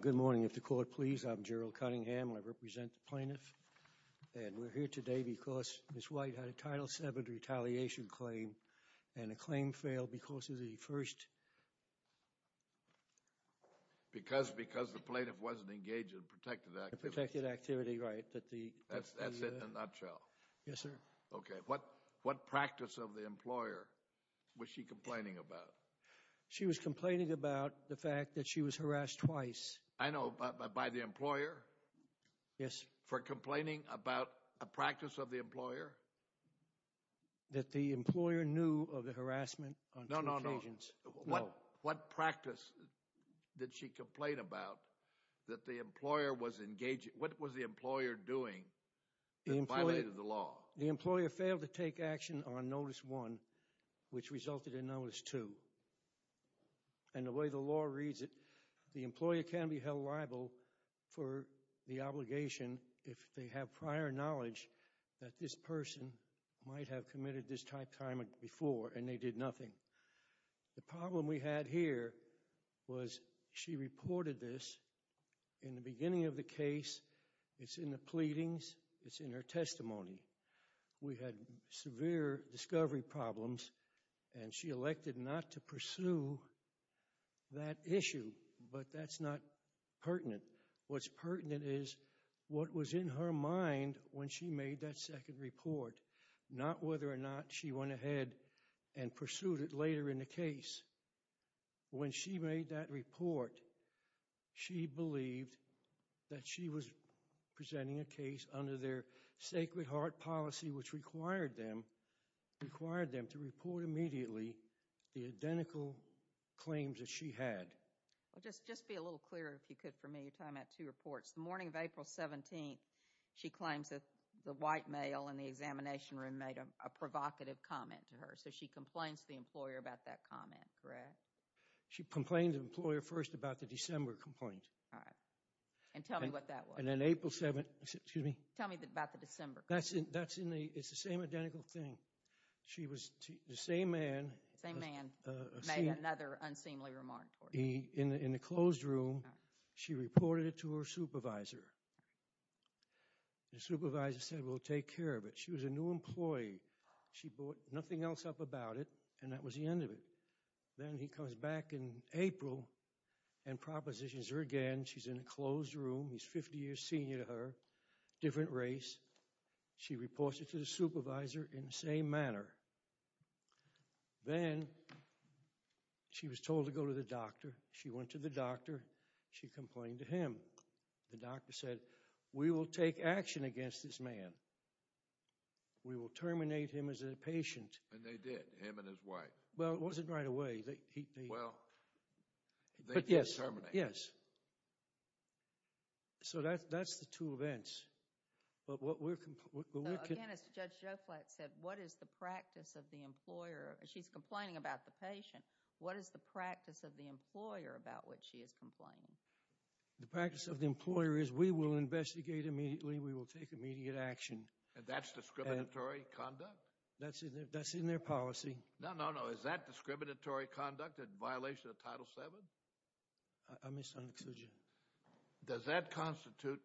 Good morning, if the court please, I'm Gerald Cunningham and I represent the plaintiffs. And we're here today because Ms. White had a Title VII Retaliation Claim and the claim failed because of the first... Because the plaintiff wasn't engaged in protected activity. Protected activity, right. That's it in a nutshell. Yes, sir. Okay, what practice of the employer was she complaining about? She was complaining about the fact that she was harassed twice. I know, by the employer? Yes. For complaining about a practice of the employer? That the employer knew of the harassment on two occasions. No, no, no. No. What practice did she complain about that the employer was engaging... What was the employer doing that violated the law? The employer failed to take action on Notice I, which resulted in Notice II. And the way the law reads it, the employer can be held liable for the obligation if they have prior knowledge that this person might have committed this type of harassment before and they did nothing. The problem we had here was she reported this in the beginning of the case, it's in the pleadings, it's in her testimony. We had severe discovery problems and she elected not to pursue that issue, but that's not pertinent. What's pertinent is what was in her mind when she made that second report, not whether or not she went ahead and pursued it later in the case. When she made that report, she believed that she was presenting a case under their sacred heart policy which required them to report immediately the identical claims that she had. Just be a little clearer if you could for me. You're talking about two reports. The morning of April 17th, she claims that the white male in the examination room made a provocative comment to her. So she complains to the employer about that comment, correct? She complained to the employer first about the December complaint. All right. And tell me what that was. And then April 7th... Excuse me? Tell me about the December complaint. That's in the... It's the same identical thing. She was... The same man... Same man made another unseemly remark. In the closed room, she reported it to her supervisor. The supervisor said, well, take care of it. She was a new employee. She brought nothing else up about it, and that was the end of it. Then he comes back in April and propositions her again. She's in a closed room. He's 50 years senior to her, different race. She reports it to the supervisor in the same manner. Then she was told to go to the doctor. She went to the doctor. She complained to him. The doctor said, we will take action against this man. We will terminate him as a patient. And they did, him and his wife. Well, it wasn't right away. Well, they did terminate him. Yes. So that's the two events. But what we're... Again, as Judge Joflat said, what is the practice of the employer? She's complaining about the patient. What is the practice of the employer about which she is complaining? The practice of the employer is we will investigate immediately. We will take immediate action. And that's discriminatory conduct? That's in their policy. No, no, no. Is that discriminatory conduct in violation of Title VII? I misunderstood you. Does that constitute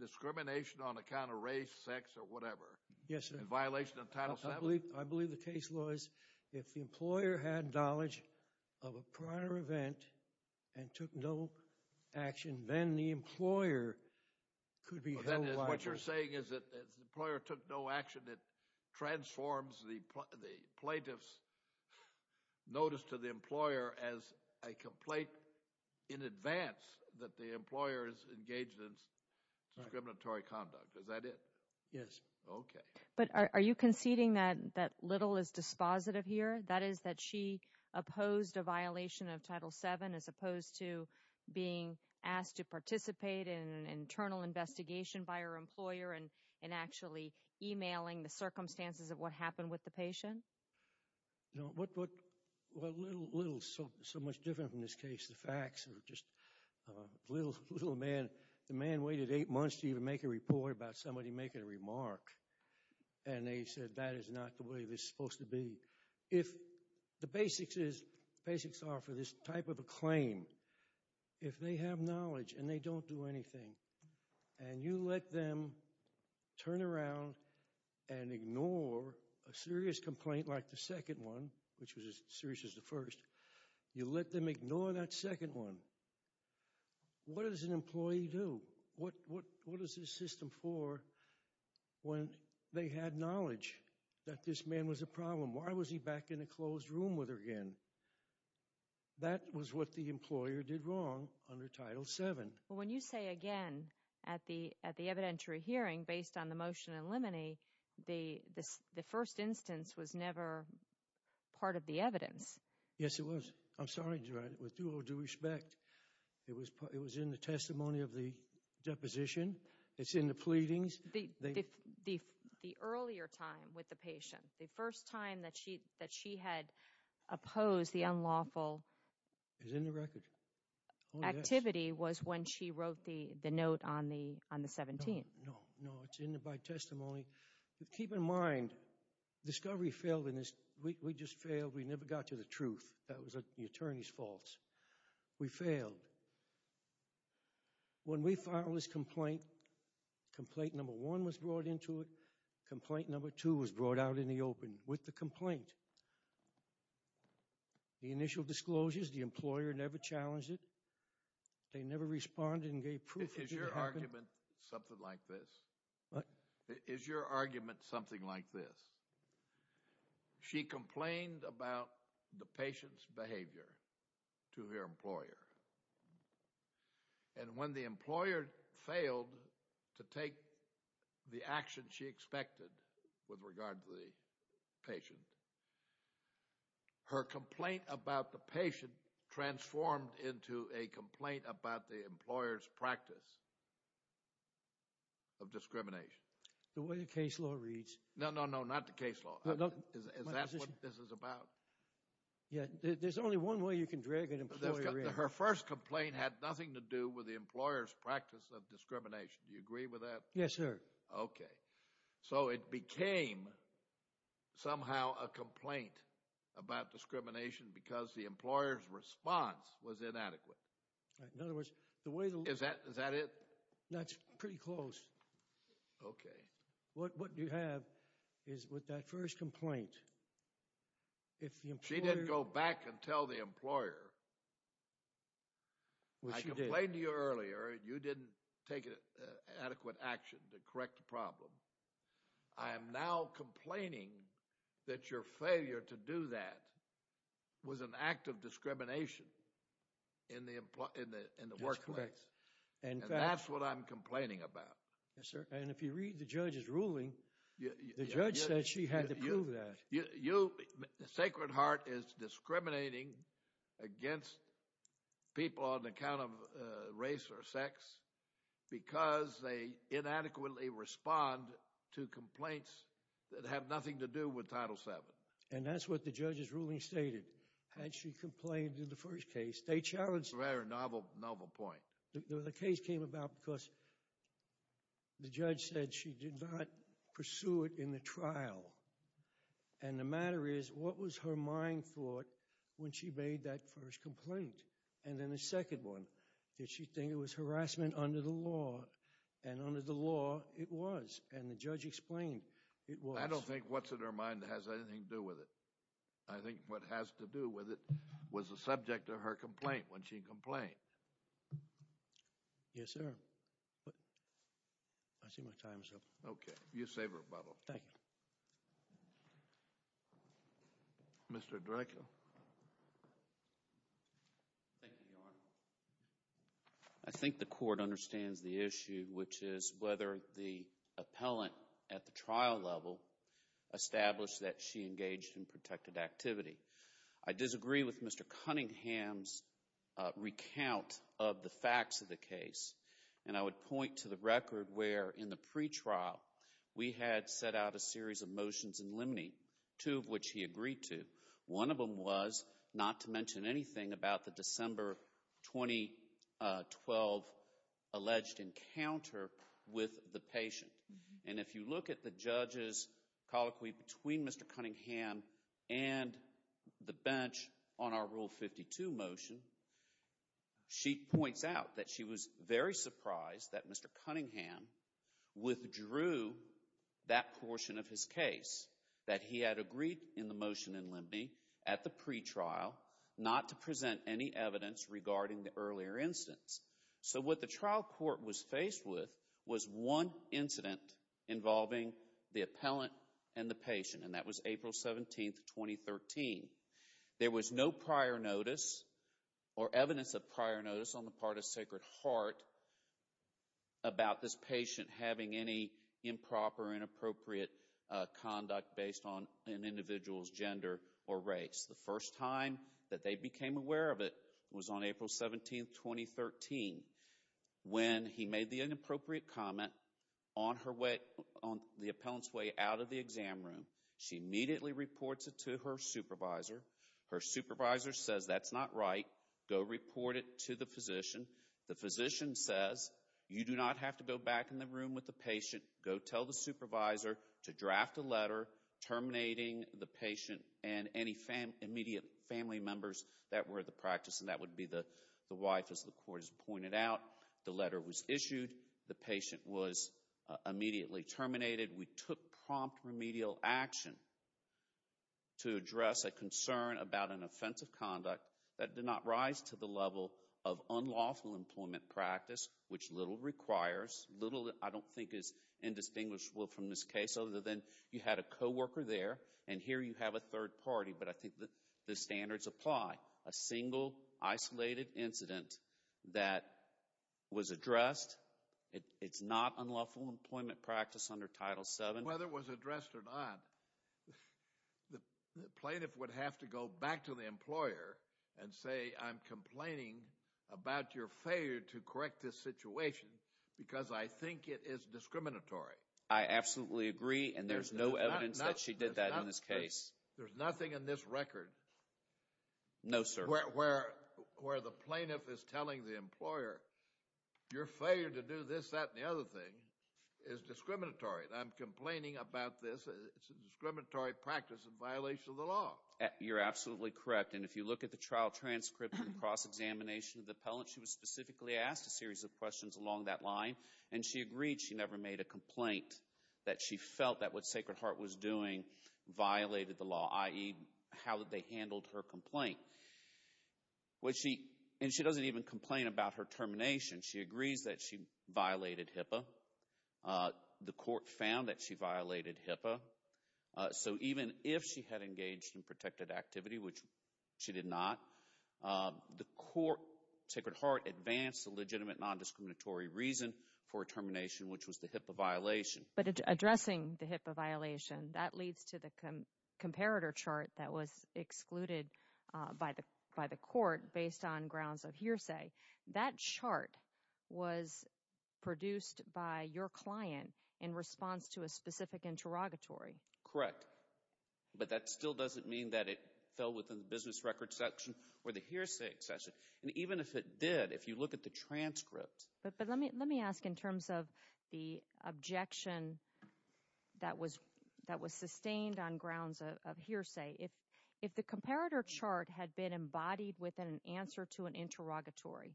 discrimination on account of race, sex, or whatever? Yes, sir. In violation of Title VII? I believe the case was if the employer had knowledge of a prior event and took no action, then the employer could be held liable. What you're saying is that if the employer took no action, it transforms the plaintiff's notice to the employer as a complaint in advance that the employer is engaged in discriminatory conduct. Is that it? Yes. Okay. But are you conceding that little is dispositive here? That is that she opposed a violation of Title VII as opposed to being asked to participate in an internal investigation by her employer and actually emailing the circumstances of what happened with the patient? No. What little is so much different in this case? The facts are just a little man. The man waited eight months to even make a report about somebody making a remark, and they said that is not the way this is supposed to be. The basics are for this type of a claim. If they have knowledge and they don't do anything, and you let them turn around and ignore a serious complaint like the second one, which was as serious as the first, you let them ignore that second one, what does an employee do? What is this system for when they had knowledge that this man was a problem? Why was he back in a closed room with her again? That was what the employer did wrong under Title VII. When you say, again, at the evidentiary hearing, based on the motion in limine, the first instance was never part of the evidence. Yes, it was. I'm sorry. With due respect, it was in the testimony of the deposition. It's in the pleadings. The earlier time with the patient, the first time that she had opposed the unlawful activity was when she wrote the note on the 17th. No, no, no. It's in the testimony. Keep in mind, discovery failed in this. We just failed. We never got to the truth. That was the attorney's fault. We failed. When we filed this complaint, complaint number one was brought into it. Complaint number two was brought out in the open with the complaint. The initial disclosures, the employer never challenged it. They never responded and gave proof. Is your argument something like this? What? Is your argument something like this? She complained about the patient's behavior to her employer. When the employer failed to take the action she expected with regard to the patient, her complaint about the patient transformed into a complaint about the employer's practice of discrimination. The way the case law reads. No, no, no. Not the case law. Is that what this is about? There's only one way you can drag an employer in. Her first complaint had nothing to do with the employer's practice of discrimination. Do you agree with that? Yes, sir. Okay. So it became somehow a complaint about discrimination because the employer's response was inadequate. In other words, the way the law. Is that it? That's pretty close. Okay. What you have is with that first complaint, if the employer. She didn't go back and tell the employer. Well, she did. I complained to you earlier and you didn't take adequate action to correct the problem. I am now complaining that your failure to do that was an act of discrimination in the workplace. That's correct. And that's what I'm complaining about. Yes, sir. And if you read the judge's ruling. The judge said she had to prove that. Sacred Heart is discriminating against people on account of race or sex. Because they inadequately respond to complaints that have nothing to do with Title VII. And that's what the judge's ruling stated. And she complained in the first case. They challenged. It's a very novel point. The case came about because the judge said she did not pursue it in the trial. And the matter is, what was her mind thought when she made that first complaint? And then the second one. Did she think it was harassment under the law? And under the law, it was. And the judge explained it was. I don't think what's in her mind has anything to do with it. I think what has to do with it was the subject of her complaint when she complained. Yes, sir. I see my time is up. Okay. You save rebuttal. Thank you. Mr. Draco. Thank you, Your Honor. I think the court understands the issue, which is whether the appellant at the trial level established that she engaged in protected activity. I disagree with Mr. Cunningham's recount of the facts of the case. And I would point to the record where, in the pretrial, we had set out a series of motions in limine, two of which he agreed to. One of them was not to mention anything about the December 2012 alleged encounter with the patient. And if you look at the judge's colloquy between Mr. Cunningham and the bench on our Rule 52 motion, she points out that she was very surprised that Mr. Cunningham withdrew that portion of his case, that he had agreed in the motion in limine, at the pretrial, not to present any evidence regarding the earlier instance. So what the trial court was faced with was one incident involving the appellant and the patient, and that was April 17, 2013. There was no prior notice or evidence of prior notice on the part of Sacred Heart about this patient having any improper, inappropriate conduct based on an individual's gender or race. The first time that they became aware of it was on April 17, 2013, when he made the inappropriate comment on the appellant's way out of the exam room. She immediately reports it to her supervisor. Her supervisor says, that's not right. Go report it to the physician. The physician says, you do not have to go back in the room with the patient. Go tell the supervisor to draft a letter terminating the patient and any immediate family members that were at the practice, and that would be the wife, as the court has pointed out. The letter was issued. The patient was immediately terminated. We took prompt remedial action to address a concern about an offensive conduct that did not rise to the level of unlawful employment practice, which little requires, little I don't think is indistinguishable from this case, other than you had a co-worker there, and here you have a third party, but I think the standards apply. A single, isolated incident that was addressed, it's not unlawful employment practice under Title VII. Whether it was addressed or not, the plaintiff would have to go back to the employer and say, I'm complaining about your failure to correct this situation because I think it is discriminatory. I absolutely agree, and there's no evidence that she did that in this case. There's nothing in this record where the plaintiff is telling the employer, your failure to do this, that, and the other thing is discriminatory. I'm complaining about this. It's a discriminatory practice in violation of the law. You're absolutely correct, and if you look at the trial transcript and cross-examination of the appellant, she was specifically asked a series of questions along that line, and she agreed she never made a complaint that she felt that what Sacred Heart was doing violated the law, i.e., how they handled her complaint. And she doesn't even complain about her termination. She agrees that she violated HIPAA. The court found that she violated HIPAA. So even if she had engaged in protected activity, which she did not, the court, Sacred Heart, advanced a legitimate non-discriminatory reason for her termination, which was the HIPAA violation. But addressing the HIPAA violation, that leads to the comparator chart that was excluded by the court based on grounds of hearsay. That chart was produced by your client in response to a specific interrogatory. Correct. But that still doesn't mean that it fell within the business records section or the hearsay section. And even if it did, if you look at the transcript. But let me ask in terms of the objection that was sustained on grounds of hearsay. If the comparator chart had been embodied within an answer to an interrogatory,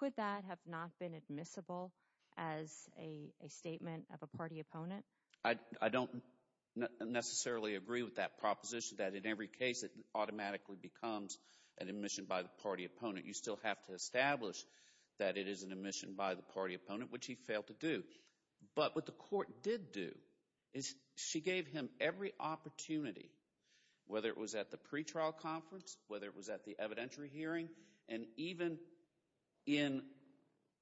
could that have not been admissible as a statement of a party opponent? I don't necessarily agree with that proposition that in every case it automatically becomes an admission by the party opponent. You still have to establish that it is an admission by the party opponent, which he failed to do. But what the court did do is she gave him every opportunity, whether it was at the pretrial conference, whether it was at the evidentiary hearing, and even in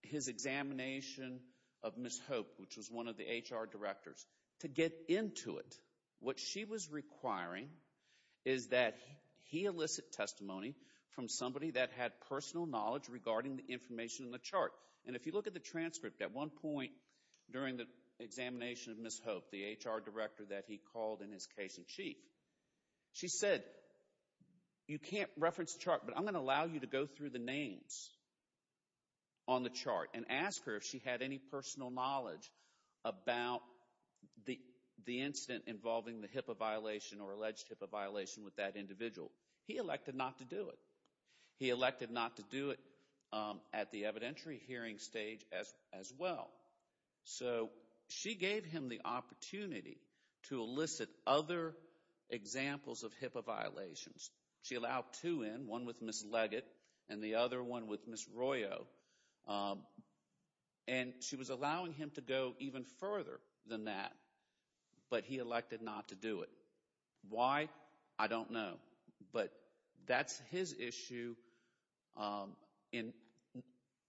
his examination of Ms. Hope, which was one of the HR directors, to get into it. What she was requiring is that he elicit testimony from somebody that had personal knowledge regarding the information in the chart. And if you look at the transcript, at one point during the examination of Ms. Hope, the HR director that he called in his case in chief, she said, you can't reference the chart, but I'm going to allow you to go through the names on the chart and ask her if she had any personal knowledge about the incident involving the HIPAA violation or alleged HIPAA violation with that individual. He elected not to do it. He elected not to do it at the evidentiary hearing stage as well. So she gave him the opportunity to elicit other examples of HIPAA violations. She allowed two in, one with Ms. Leggett and the other one with Ms. Royo. And she was allowing him to go even further than that, but he elected not to do it. Why? I don't know. But that's his issue in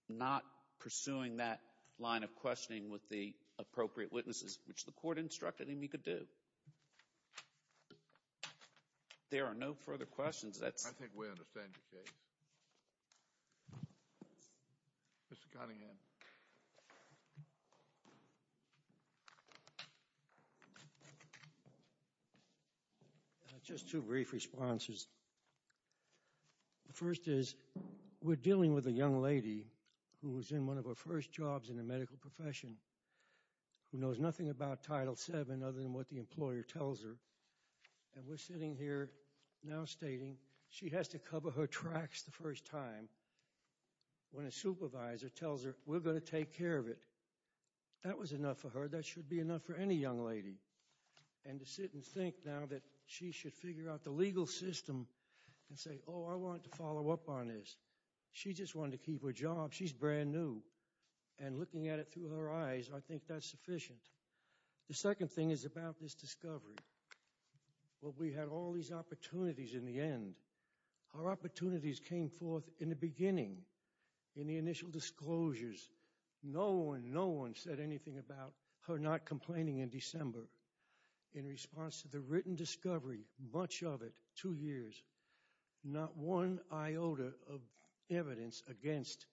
not pursuing that line of questioning with the appropriate witnesses, which the court instructed him he could do. There are no further questions. I think we understand the case. Mr. Cunningham. Just two brief responses. The first is we're dealing with a young lady who was in one of her first jobs in the medical profession who knows nothing about Title VII other than what the employer tells her. And we're sitting here now stating she has to cover her tracks the first time when a supervisor tells her we're going to take care of it. That was enough for her. That should be enough for any young lady. And to sit and think now that she should figure out the legal system and say, oh, I want to follow up on this. She just wanted to keep her job. She's brand new. And looking at it through her eyes, I think that's sufficient. The second thing is about this discovery. Well, we had all these opportunities in the end. Our opportunities came forth in the beginning, in the initial disclosures. No one, no one said anything about her not complaining in December. In response to the written discovery, much of it, two years, not one iota of evidence against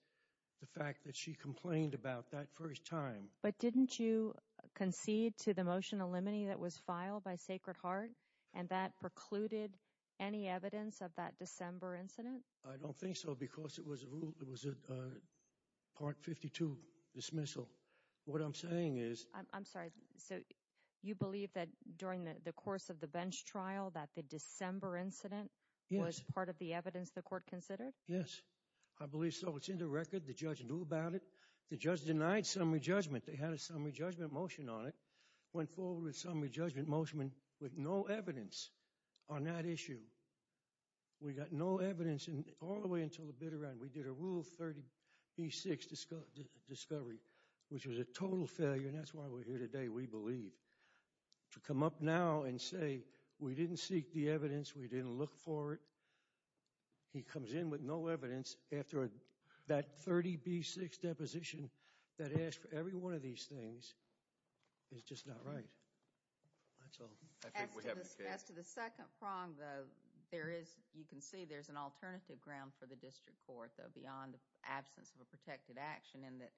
the fact that she complained about that first time. But didn't you concede to the motion of limine that was filed by Sacred Heart and that precluded any evidence of that December incident? I don't think so because it was a Part 52 dismissal. What I'm saying is. I'm sorry. So you believe that during the course of the bench trial that the December incident was part of the evidence the court considered? Yes. I believe so. It's in the record. The judge knew about it. The judge denied summary judgment. They had a summary judgment motion on it. Went forward with a summary judgment motion with no evidence on that issue. We got no evidence all the way until the bitter end. We did a Rule 30b-6 discovery, which was a total failure, and that's why we're here today, we believe. To come up now and say we didn't seek the evidence, we didn't look for it. He comes in with no evidence after that 30b-6 deposition that asked for every one of these things is just not right. That's all. As to the second prong, though, you can see there's an alternative ground for the district court, though, beyond the absence of a protected action in that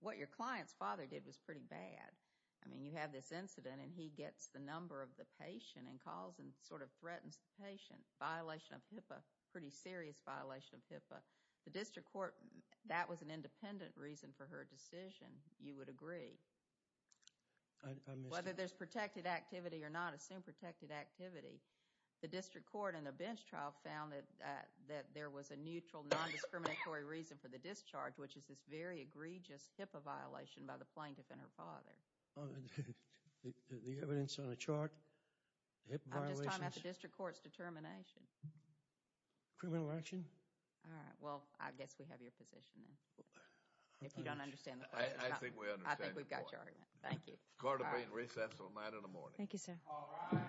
what your client's father did was pretty bad. I mean, you have this incident, and he gets the number of the patient and calls and sort of threatens the patient. Violation of HIPAA, pretty serious violation of HIPAA. The district court, that was an independent reason for her decision, you would agree. I missed it. Whether there's protected activity or not, assume protected activity. The district court in the bench trial found that there was a neutral, non-discriminatory reason for the discharge, which is this very egregious HIPAA violation by the plaintiff and her father. The evidence on the chart, HIPAA violations... I'm just talking about the district court's determination. Criminal action? All right. Well, I guess we have your position then. If you don't understand the question. I think we understand the question. I think we've got your argument. Thank you. Court will be in recess until 9 in the morning. Thank you, sir. All rise. Thank you.